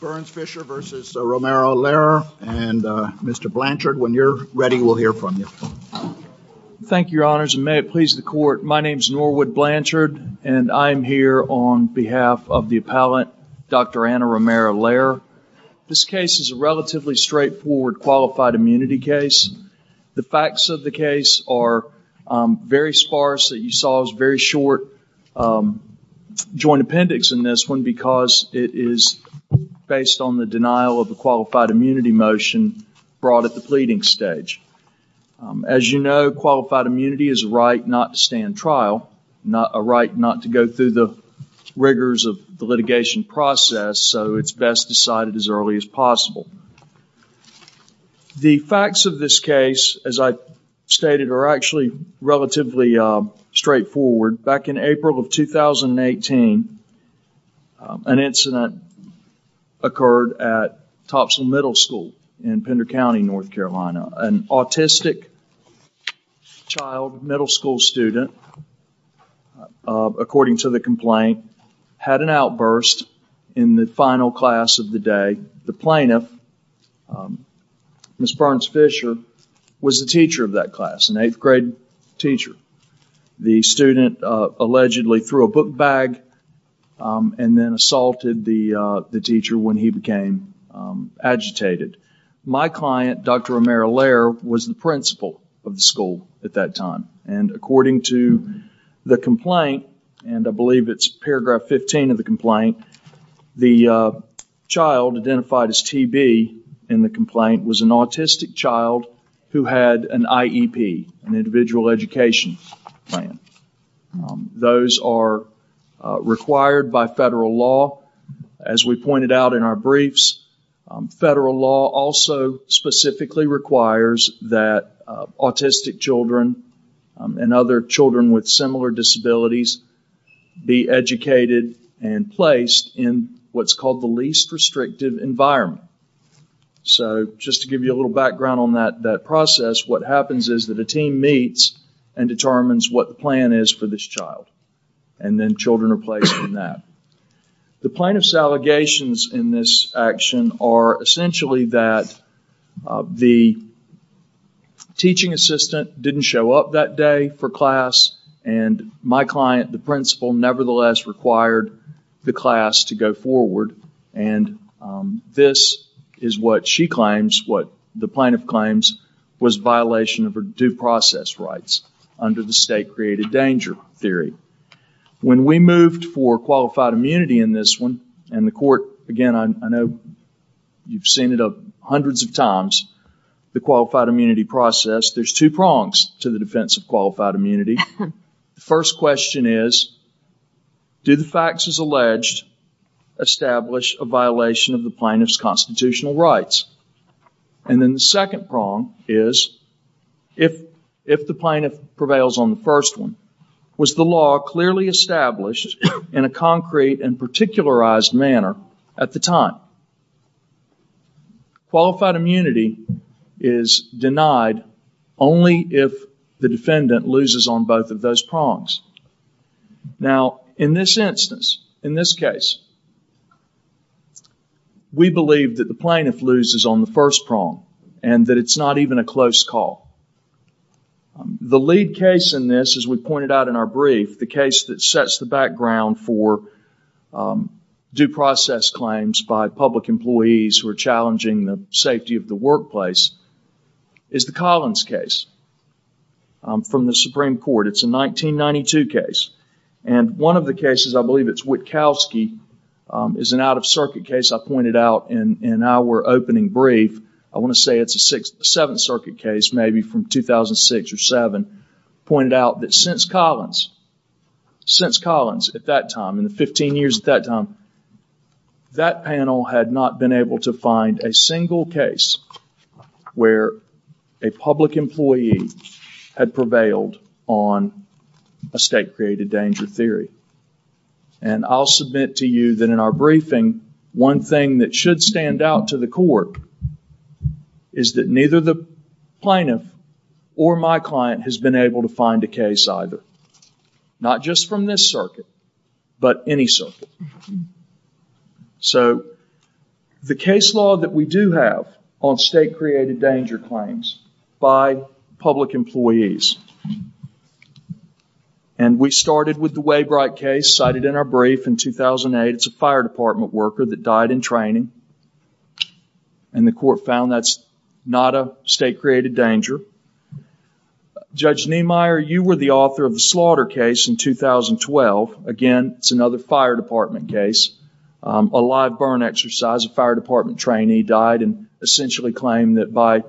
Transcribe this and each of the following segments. Burns-Fisher v. Romero-Lehrer and Mr. Blanchard, when you're ready, we'll hear from you. Thank you, Your Honors, and may it please the Court, my name is Norwood Blanchard and I'm here on behalf of the appellant, Dr. Anna Romero-Lehrer. This case is a relatively straightforward qualified immunity case. The facts of the case are very sparse that you saw, it was very short joint appendix in this one because it is based on the denial of a qualified immunity motion brought at the pleading stage. As you know, qualified immunity is a right not to stand trial, a right not to go through the rigors of the litigation process, so it's best decided as early as possible. The facts of this case, as I stated, are actually relatively straightforward. Back in April of 2018, an incident occurred at Topsill Middle School in Pender County, North Carolina. An autistic child, middle school student, according to the complaint, had an outburst in the final class of the day. The plaintiff, Ms. Burns-Fisher, was the teacher of that class, an eighth grade teacher. The student allegedly threw a book bag and then assaulted the teacher when he became agitated. My client, Dr. Romero-Lehrer, was the principal of the school at that time, and according to the complaint, and I believe it's paragraph 15 of the complaint, the child identified as TB in the complaint was an autistic child who had an IEP, an individual education plan. Those are required by federal law. As we pointed out in our briefs, federal law also specifically requires that autistic children and other children with similar disabilities be educated and placed in what's called the restrictive environment. Just to give you a little background on that process, what happens is that a team meets and determines what the plan is for this child, and then children are placed in that. The plaintiff's allegations in this action are essentially that the teaching assistant didn't show up that day for class, and my client, the principal, nevertheless required the class to go forward, and this is what she claims, what the plaintiff claims, was violation of her due process rights under the state-created danger theory. When we moved for qualified immunity in this one, and the court, again, I know you've seen it hundreds of times, the qualified immunity process, there's two prongs to the defense of qualified immunity. The first question is, do the facts as alleged establish a violation of the plaintiff's constitutional rights? And then the second prong is, if the plaintiff prevails on the first one, was the law clearly established in a concrete and particularized manner at the time? Qualified immunity is denied only if the defendant loses on both of those prongs. Now in this instance, in this case, we believe that the plaintiff loses on the first prong, and that it's not even a close call. The lead case in this, as we pointed out in our brief, the case that sets the background for due process claims by public employees who are challenging the safety of the workplace is the Collins case from the Supreme Court. It's a 1992 case, and one of the cases, I believe it's Witkowski, is an out-of-circuit case I pointed out in our opening brief. I want to say it's a Seventh Circuit case, maybe from 2006 or 2007, pointed out that since Collins, since Collins at that time, in the 15 years at that time, that panel had not been able to find a single case where a public employee had prevailed on a state-created danger theory. And I'll submit to you that in our briefing, one thing that should stand out to the court is that neither the plaintiff or my client has been able to find a case either. Not just from this circuit, but any circuit. So the case law that we do have on state-created danger claims by public employees, and we started with the Waveride case cited in our brief in 2008. It's a fire department worker that died in training, and the court found that's not a state-created danger. Judge Niemeyer, you were the author of the slaughter case in 2012. Again, it's another fire department case, a live burn exercise, a fire department trainee died and essentially claimed that by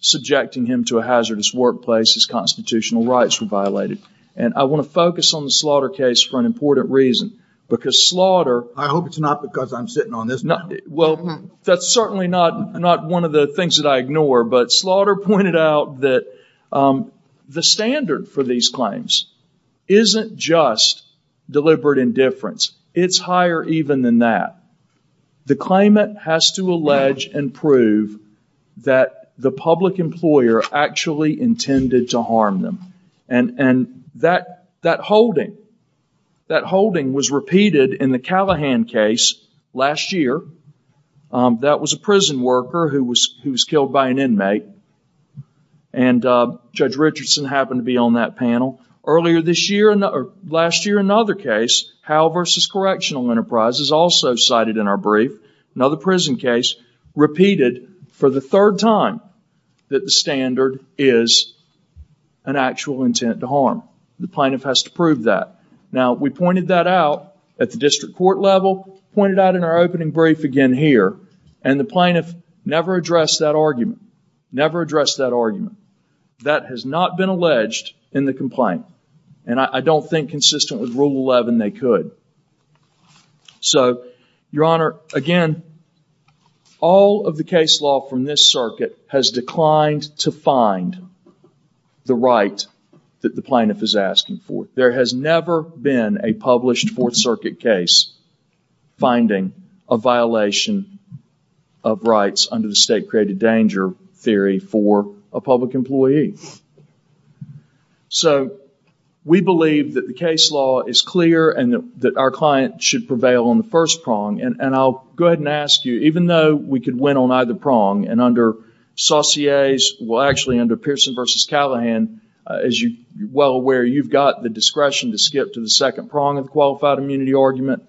subjecting him to a hazardous workplace, his constitutional rights were violated. And I want to focus on the slaughter case for an important reason. Because slaughter... I hope it's not because I'm sitting on this panel. Well, that's certainly not one of the things that I ignore, but slaughter pointed out that the standard for these claims isn't just deliberate indifference. It's higher even than that. The claimant has to allege and prove that the public employer actually intended to harm them. And that holding was repeated in the Callahan case last year. That was a prison worker who was killed by an inmate, and Judge Richardson happened to be on that panel. Earlier this year, or last year, another case, Howe v. Correctional Enterprises, also cited in our brief, another prison case, repeated for the third time that the standard is an actual intent to harm. The plaintiff has to prove that. Now we pointed that out at the district court level, pointed out in our opening brief again here, and the plaintiff never addressed that argument. Never addressed that argument. That has not been alleged in the complaint. And I don't think consistent with Rule 11 they could. So Your Honor, again, all of the case law from this circuit has declined to find the right that the plaintiff is asking for. There has never been a published Fourth Circuit case finding a violation of rights under the State Created Danger theory for a public employee. So we believe that the case law is clear and that our client should prevail on the first prong, and I'll go ahead and ask you, even though we could win on either prong, and under Saussure's, well, actually under Pearson v. Callahan, as you're well aware, you've got the discretion to skip to the second prong of the qualified immunity argument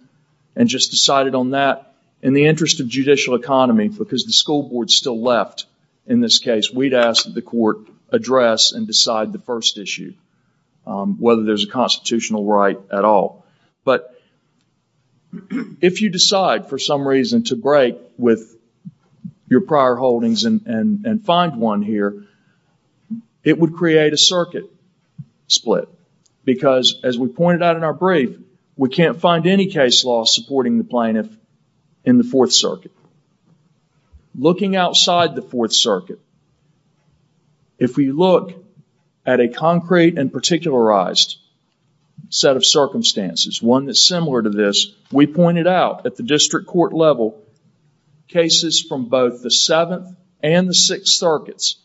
and just decided on that. In the interest of judicial economy, because the school board's still left in this case, we'd ask that the court address and decide the first issue, whether there's a constitutional right at all. But if you decide for some reason to break with your prior holdings and find one here, it would create a circuit split because, as we pointed out in our brief, we can't find any case law supporting the plaintiff in the Fourth Circuit. Looking outside the Fourth Circuit, if we look at a concrete and particularized set of circumstances, one that's similar to this, we pointed out at the district court level cases from both the Seventh and the Sixth Circuits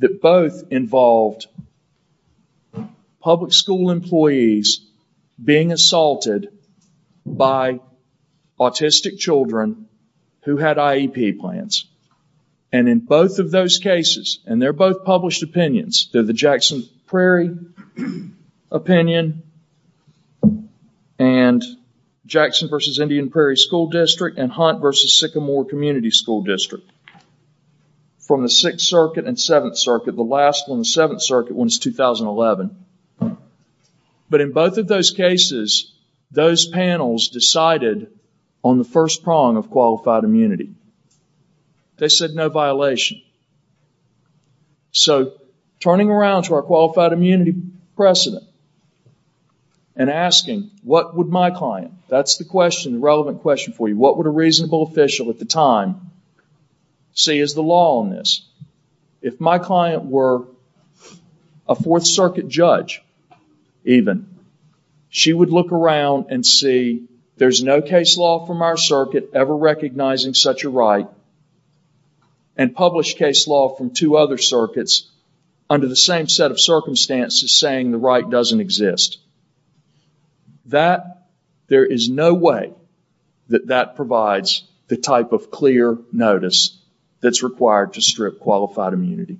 that both involved public school employees being assaulted by autistic children who had IEP plans, and in both of those cases, and they're both published opinions, they're the Jackson Prairie opinion and Jackson v. Indian Prairie School District and Hunt v. Sycamore Community School District. From the Sixth Circuit and Seventh Circuit, the last one, the Seventh Circuit, was 2011. But in both of those cases, those panels decided on the first prong of qualified immunity. They said no violation. So turning around to our qualified immunity precedent and asking, what would my client, that's the question, the relevant question for you, what would a reasonable official at the time see as the law on this? If my client were a Fourth Circuit judge, even, she would look around and see there's no case law from our circuit ever recognizing such a right, and published case law from two other circuits under the same set of circumstances saying the right doesn't exist. There is no way that that provides the type of clear notice that's required to strip qualified immunity.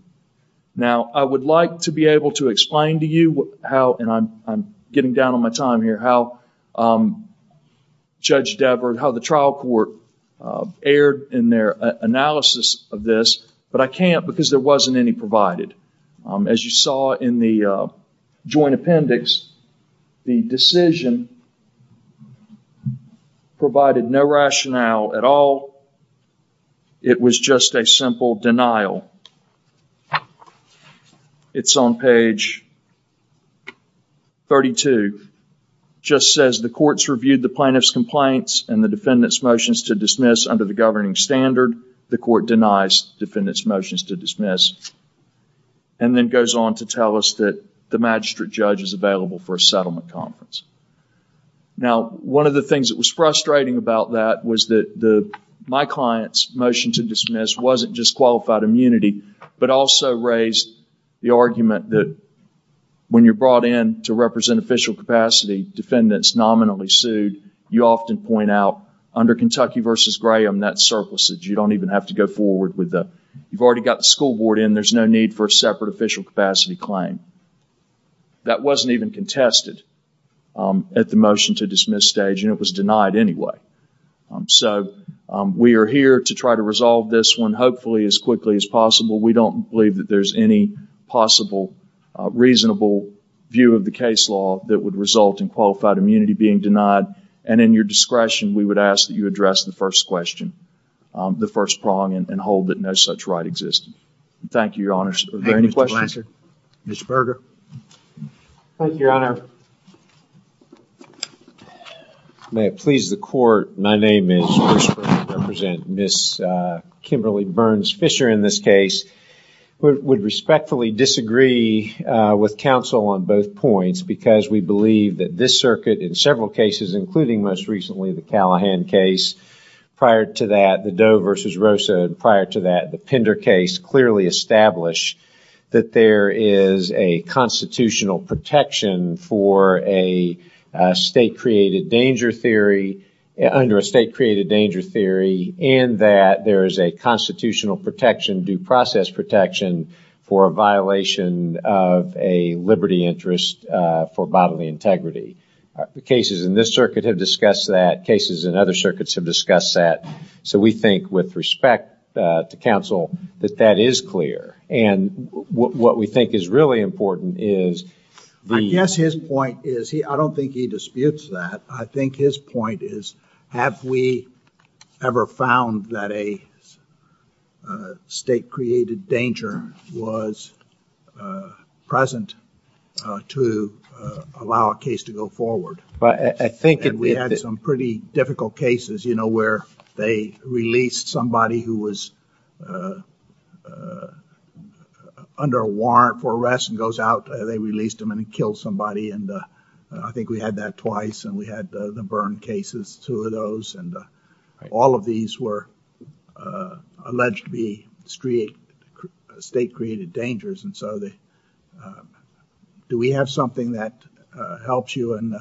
Now I would like to be able to explain to you how, and I'm getting down on my time here, Judge Debert, how the trial court erred in their analysis of this, but I can't because there wasn't any provided. As you saw in the joint appendix, the decision provided no rationale at all. It was just a simple denial. It's on page 32, just says the court's reviewed the plaintiff's complaints and the defendant's motions to dismiss under the governing standard. The court denies defendant's motions to dismiss, and then goes on to tell us that the magistrate judge is available for a settlement conference. Now one of the things that was frustrating about that was that my client's motion to dismiss was denied anyway, so we are here to try to resolve this one hopefully as quickly as possible. We don't believe that there's any possible reasonable view of the case law that would result in qualified immunity being denied, and in your discretion we would ask that you address the first question, the first prong, and hold that no such right existed. Thank you, Your Honor. Are there any questions? Thank you, Mr. Blanchard. Mr. Berger. Thank you, Your Honor. May it please the court, my name is Bruce Berger. I represent Ms. Kimberly Burns Fisher in this case. We would respectfully disagree with counsel on both points because we believe that this circuit in several cases, including most recently the Callahan case, prior to that the Doe versus Rosa, and prior to that the Pender case, clearly established that there is a constitutional protection for a state-created danger theory, under a state-created danger theory, and that there is a constitutional protection, due process protection, for a violation of a liberty interest for bodily integrity. The cases in this circuit have discussed that, cases in other circuits have discussed that, so we think with respect to counsel that that is clear, and what we think is really important is the... I guess his point is, I don't think he disputes that, I think his point is, have we ever found that a state-created danger was present to allow a case to go forward? I think... And we had some pretty difficult cases, you know, where they released somebody who was under a warrant for arrest and goes out, they released him and killed somebody, and I think we had that twice, and we had the Byrne cases, two of those, and all of these were alleged to be state-created dangers, and so do we have something that helps you in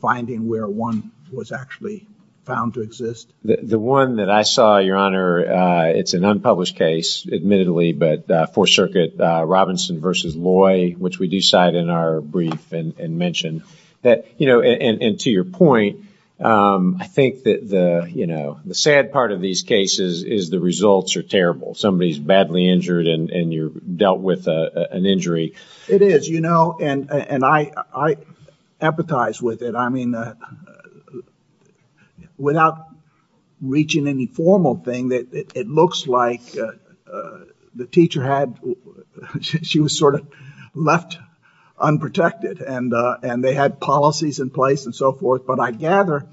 finding where one was actually found to exist? The one that I saw, Your Honor, it's an unpublished case, admittedly, but Fourth Circuit, Robinson v. Loy, which we do cite in our brief and mention, that, you know, and to your point, I think that the, you know, the sad part of these cases is the results are terrible. Somebody's badly injured and you're dealt with an injury. It is, you know, and I empathize with it. I mean, without reaching any formal thing, it looks like the teacher had, she was sort of left unprotected and they had policies in place and so forth, but I gather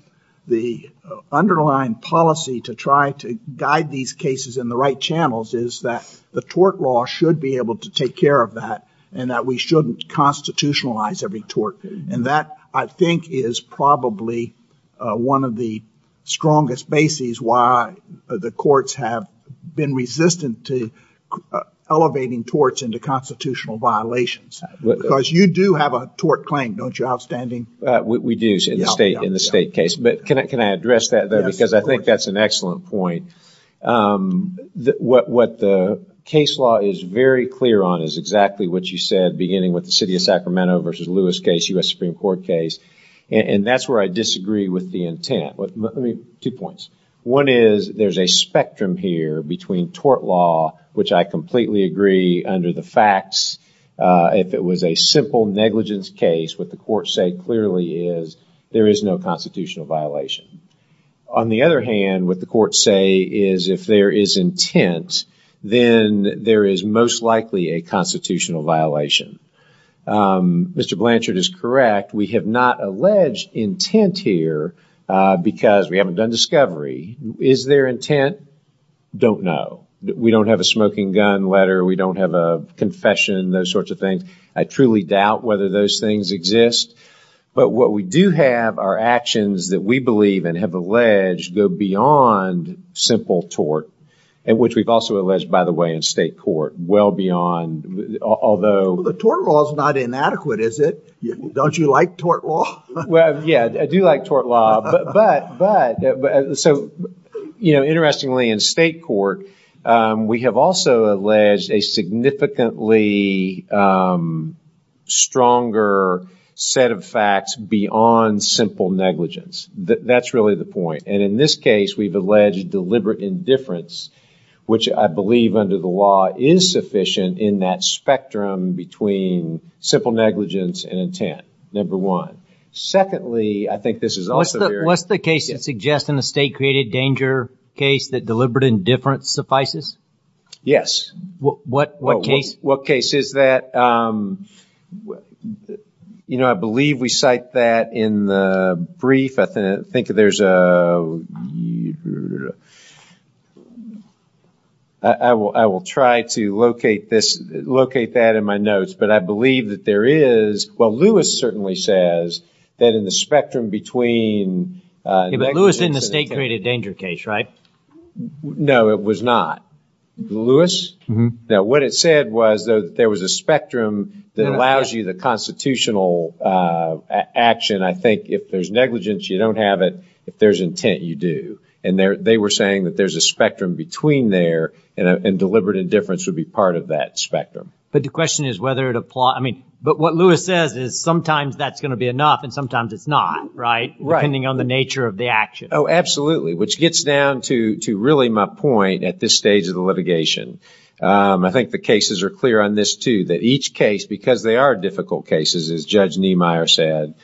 the underlying policy to try to guide these cases in the right channels is that the tort law should be able to take care of that and that we shouldn't constitutionalize every tort, and that I think is probably one of the strongest bases why the courts have been resistant to elevating torts into constitutional violations, because you do have a tort claim, don't you, Outstanding? We do in the state case, but can I address that, though, because I think that's an excellent point. What the case law is very clear on is exactly what you said, beginning with the City of And that's where I disagree with the intent. Let me, two points. One is there's a spectrum here between tort law, which I completely agree under the facts, if it was a simple negligence case, what the courts say clearly is there is no constitutional violation. On the other hand, what the courts say is if there is intent, then there is most likely a constitutional violation. Mr. Blanchard is correct. We have not alleged intent here because we haven't done discovery. Is there intent? Don't know. We don't have a smoking gun letter. We don't have a confession, those sorts of things. I truly doubt whether those things exist, but what we do have are actions that we believe and have alleged go beyond simple tort, which we've also alleged, by the way, in state court. Well beyond, although... Well, the tort law is not inadequate, is it? Don't you like tort law? Well, yeah, I do like tort law, but, so, you know, interestingly, in state court, we have also alleged a significantly stronger set of facts beyond simple negligence. That's really the point. And in this case, we've alleged deliberate indifference, which I believe under the law is sufficient in that spectrum between simple negligence and intent, number one. Secondly, I think this is also very... What's the case that suggests in a state-created danger case that deliberate indifference suffices? Yes. What case? What case is that? You know, I believe we cite that in the brief. I think there's a... I will try to locate this, locate that in my notes, but I believe that there is... Well, Lewis certainly says that in the spectrum between negligence and intent... Yeah, but Lewis didn't in the state-created danger case, right? No, it was not. Lewis? Now, what it said was that there was a spectrum that allows you the constitutional action, and I think if there's negligence, you don't have it. If there's intent, you do. And they were saying that there's a spectrum between there, and deliberate indifference would be part of that spectrum. But the question is whether it applies... I mean, but what Lewis says is sometimes that's going to be enough, and sometimes it's not, right? Right. Depending on the nature of the action. Oh, absolutely, which gets down to really my point at this stage of the litigation. I think the cases are clear on this too, that each case, because they are difficult cases, as Judge Niemeyer said,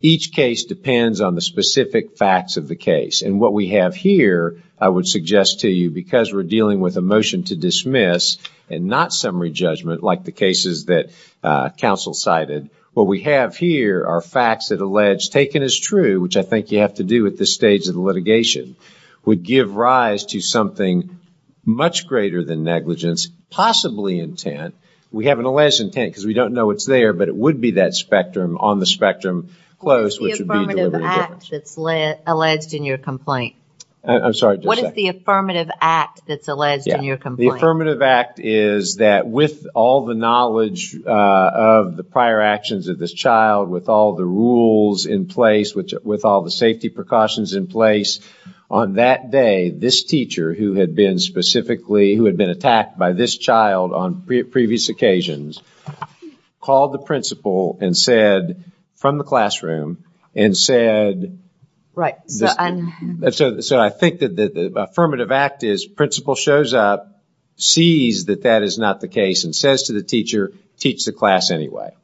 each case depends on the specific facts of the case. And what we have here, I would suggest to you, because we're dealing with a motion to dismiss and not summary judgment, like the cases that counsel cited, what we have here are facts that allege taken as true, which I think you have to do at this stage of the litigation, would give rise to something much greater than negligence, possibly intent. We have an alleged intent, because we don't know what's there, but it would be that spectrum on the spectrum closed, which would be deliberate indifference. What is the affirmative act that's alleged in your complaint? I'm sorry, just a second. What is the affirmative act that's alleged in your complaint? The affirmative act is that with all the knowledge of the prior actions of this child, with all the rules in place, with all the safety precautions in place, on that day, this teacher who had been specifically, who had been attacked by this child on previous occasions, called the principal and said, from the classroom, and said, so I think that the affirmative act is, principal shows up, sees that that is not the case, and says to the teacher, teach the class anyway.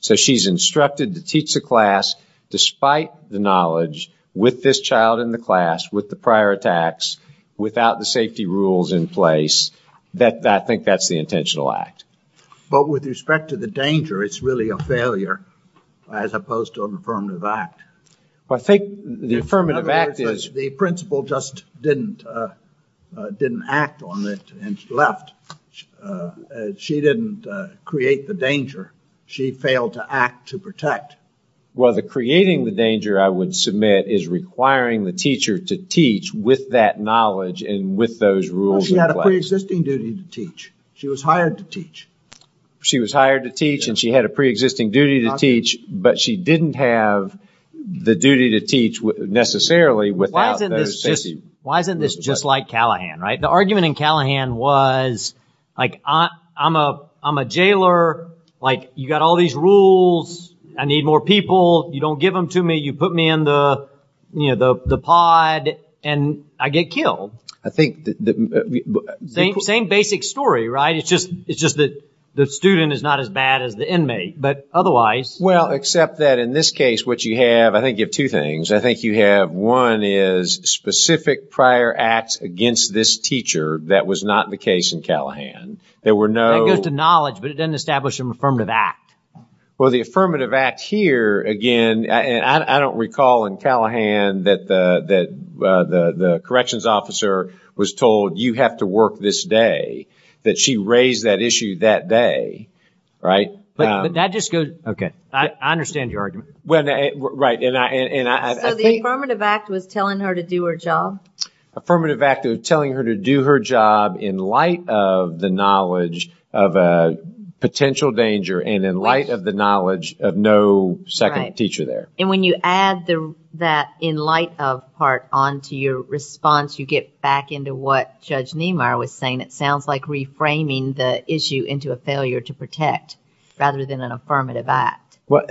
So she's instructed to teach the class, despite the knowledge, with this child in the class, with the prior attacks, without the safety rules in place, that I think that's the intentional act. But with respect to the danger, it's really a failure, as opposed to an affirmative act. I think the affirmative act is... The principal just didn't act on it and left. She didn't create the danger. She failed to act to protect. Well, the creating the danger, I would submit, is requiring the teacher to teach with that knowledge and with those rules in place. No, she had a pre-existing duty to teach. She was hired to teach. She was hired to teach and she had a pre-existing duty to teach, but she didn't have the duty to teach, necessarily, without those safety rules in place. Why isn't this just like Callahan, right? The argument in Callahan was, I'm a jailer, you've got all these rules, I need more people, you don't give them to me, you put me in the pod, and I get killed. Same basic story, right? It's just that the student is not as bad as the inmate. But otherwise... Well, except that in this case, what you have, I think you have two things. I think you have one is specific prior acts against this teacher that was not the case in Callahan. That goes to knowledge, but it doesn't establish an affirmative act. Well, the affirmative act here, again, I don't recall in Callahan that the corrections officer was told, you have to work this day, that she raised that issue that day, right? That just goes... Okay. I understand your argument. Right. So the affirmative act was telling her to do her job? Affirmative act was telling her to do her job in light of the knowledge of a potential danger and in light of the knowledge of no second teacher there. And when you add that in light of part onto your response, you get back into what Judge Niemeyer was saying. It sounds like reframing the issue into a failure to protect, rather than an affirmative act. Well,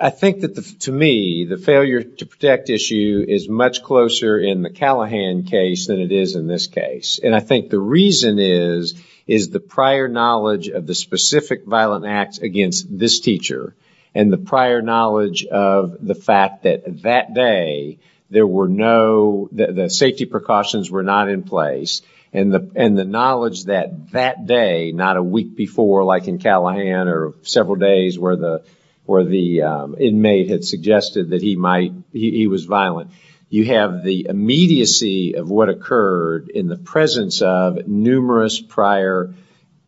I think that to me, the failure to protect issue is much closer in the Callahan case than it is in this case. And I think the reason is, is the prior knowledge of the specific violent acts against this teacher and the prior knowledge of the fact that that day, the safety precautions were not in place, and the knowledge that that day, not a week before like in Callahan or several days where the inmate had suggested that he was violent. You have the immediacy of what occurred in the presence of numerous prior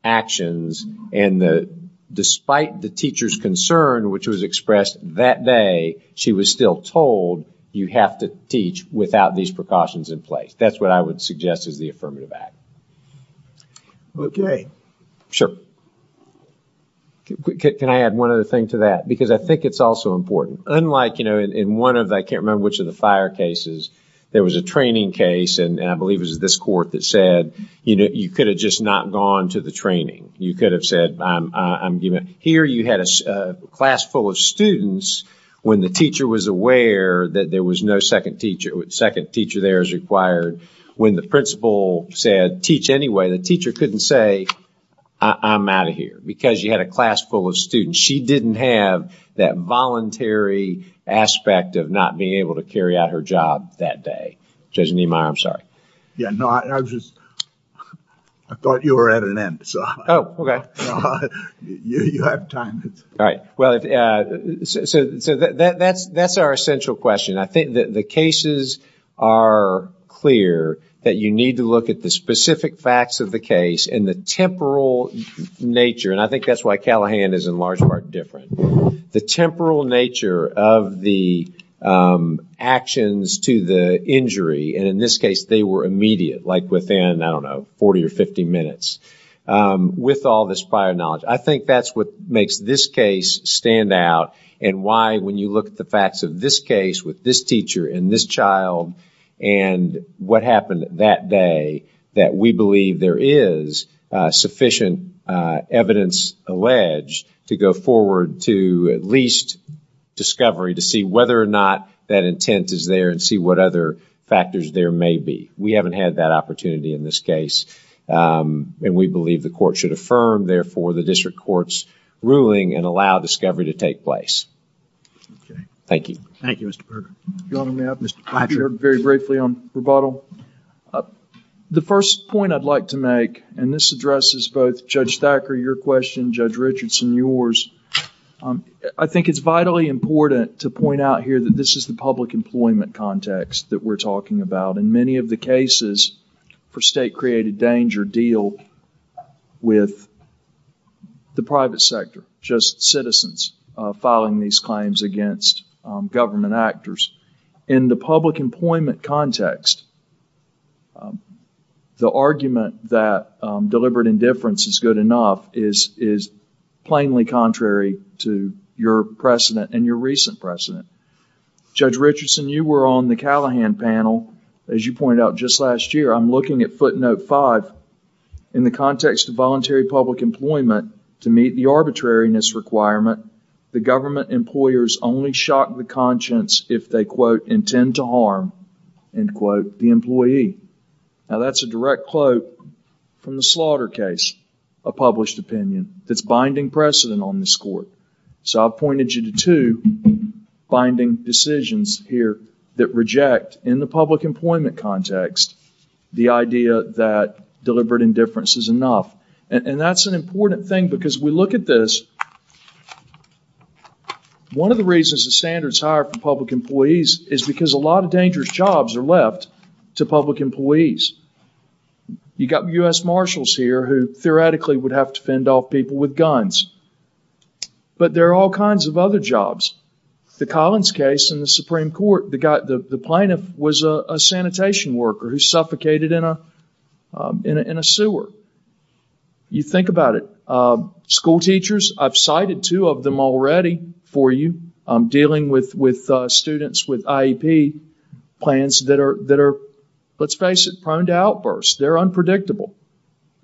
actions, and despite the teacher's concern, which was expressed that day, she was still told, you have to teach without these precautions in place. That's what I would suggest is the affirmative act. Okay. Sure. Can I add one other thing to that? Because I think it's also important. Unlike, you know, in one of, I can't remember which of the fire cases, there was a training case and I believe it was this court that said, you know, you could have just not gone to the training. You could have said, here you had a class full of students when the teacher was aware that there was no second teacher, a second teacher there is required. When the principal said, teach anyway, the teacher couldn't say, I'm out of here because you had a class full of students. She didn't have that voluntary aspect of not being able to carry out her job that day. Judge Niemeyer, I'm sorry. Yeah, no, I was just, I thought you were at an end, so. Oh, okay. You have time. All right. Well, so that's our essential question. I think that the cases are clear that you need to look at the specific facts of the case and the temporal nature, and I think that's why Callahan is in large part different. The temporal nature of the actions to the injury, and in this case they were immediate, like within, I don't know, 40 or 50 minutes. With all this prior knowledge, I think that's what makes this case stand out and why when you look at the facts of this case with this teacher and this child and what happened that day that we believe there is sufficient evidence alleged to go forward to at least discovery to see whether or not that intent is there and see what other factors there may be. We haven't had that opportunity in this case, and we believe the court should affirm, therefore, the district court's ruling and allow discovery to take place. Okay. Thank you. Thank you, Mr. Berger. Your Honor, may I? Mr. Patrick. Very briefly on rebuttal. The first point I'd like to make, and this addresses both Judge Thacker, your question, Judge Richardson, yours, I think it's vitally important to point out here that this is the cases for state-created danger deal with the private sector, just citizens filing these claims against government actors. In the public employment context, the argument that deliberate indifference is good enough is plainly contrary to your precedent and your recent precedent. Judge Richardson, you were on the Callahan panel. As you pointed out just last year, I'm looking at footnote five. In the context of voluntary public employment, to meet the arbitrariness requirement, the government employers only shock the conscience if they, quote, intend to harm, end quote, the employee. Now, that's a direct quote from the slaughter case, a published opinion that's binding precedent on this court. So I've pointed you to two binding decisions here that reject, in the public employment context, the idea that deliberate indifference is enough. And that's an important thing because we look at this. One of the reasons the standards are higher for public employees is because a lot of dangerous jobs are left to public employees. You've got U.S. Marshals here who theoretically would have to fend off people with guns. But there are all kinds of other jobs. The Collins case in the Supreme Court, the plaintiff was a sanitation worker who suffocated in a sewer. You think about it. School teachers, I've cited two of them already for you. Dealing with students with IEP plans that are, let's face it, prone to outbursts. They're unpredictable.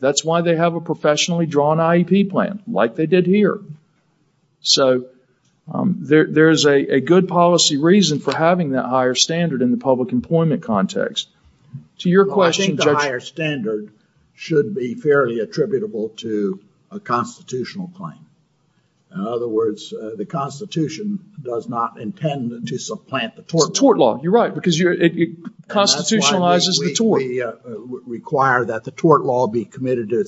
That's why they have a professionally drawn IEP plan, like they did here. So there is a good policy reason for having that higher standard in the public employment context. To your question, Judge- Well, I think the higher standard should be fairly attributable to a constitutional claim. In other words, the Constitution does not intend to supplant the tort law. It's the tort law. You're right because it constitutionalizes the tort. And that's why we require that the tort law be committed to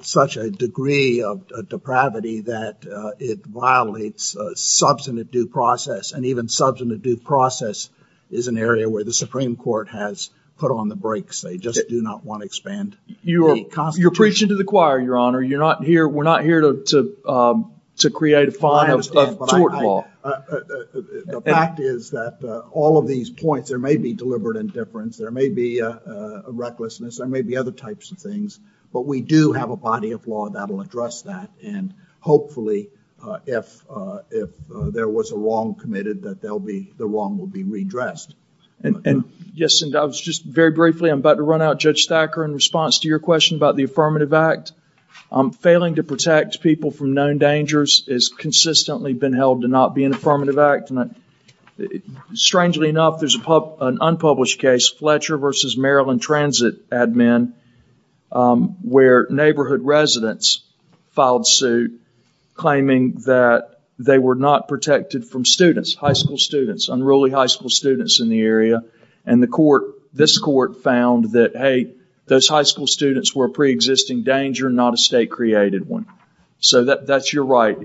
such a degree of depravity that it violates substantive due process. And even substantive due process is an area where the Supreme Court has put on the brakes. They just do not want to expand the Constitution. You're preaching to the choir, Your Honor. You're not here, we're not here to create a fond of tort law. The fact is that all of these points, there may be deliberate indifference. There may be a recklessness. There may be other types of things. But we do have a body of law that will address that. And hopefully, if there was a wrong committed, that the wrong will be redressed. And yes, and I was just, very briefly, I'm about to run out Judge Thacker in response to your question about the Affirmative Act. Failing to protect people from known dangers has consistently been held to not be an Affirmative Act. Strangely enough, there's an unpublished case, Fletcher v. Maryland Transit Admin, where neighborhood residents filed suit claiming that they were not protected from students, high school students, unruly high school students in the area. And the court, this court, found that, hey, those high school students were a pre-existing danger, not a state-created one. So that's your right.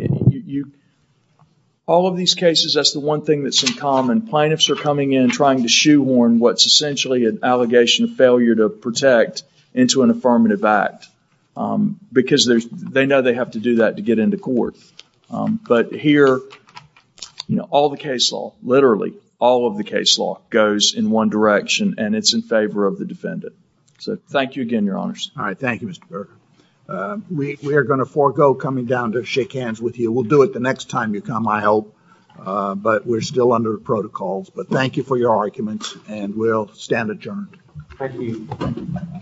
All of these cases, that's the one thing that's in common. Plaintiffs are coming in, trying to shoehorn what's essentially an allegation of failure to protect into an Affirmative Act. Because they know they have to do that to get into court. But here, all the case law, literally all of the case law goes in one direction, and it's in favor of the defendant. So thank you again, Your Honors. All right, thank you, Mr. Berger. We are going to forego coming down to shake hands with you. We'll do it the next time you come, I hope. But we're still under the protocols. But thank you for your arguments, and we'll stand adjourned. Thank you. Thank you.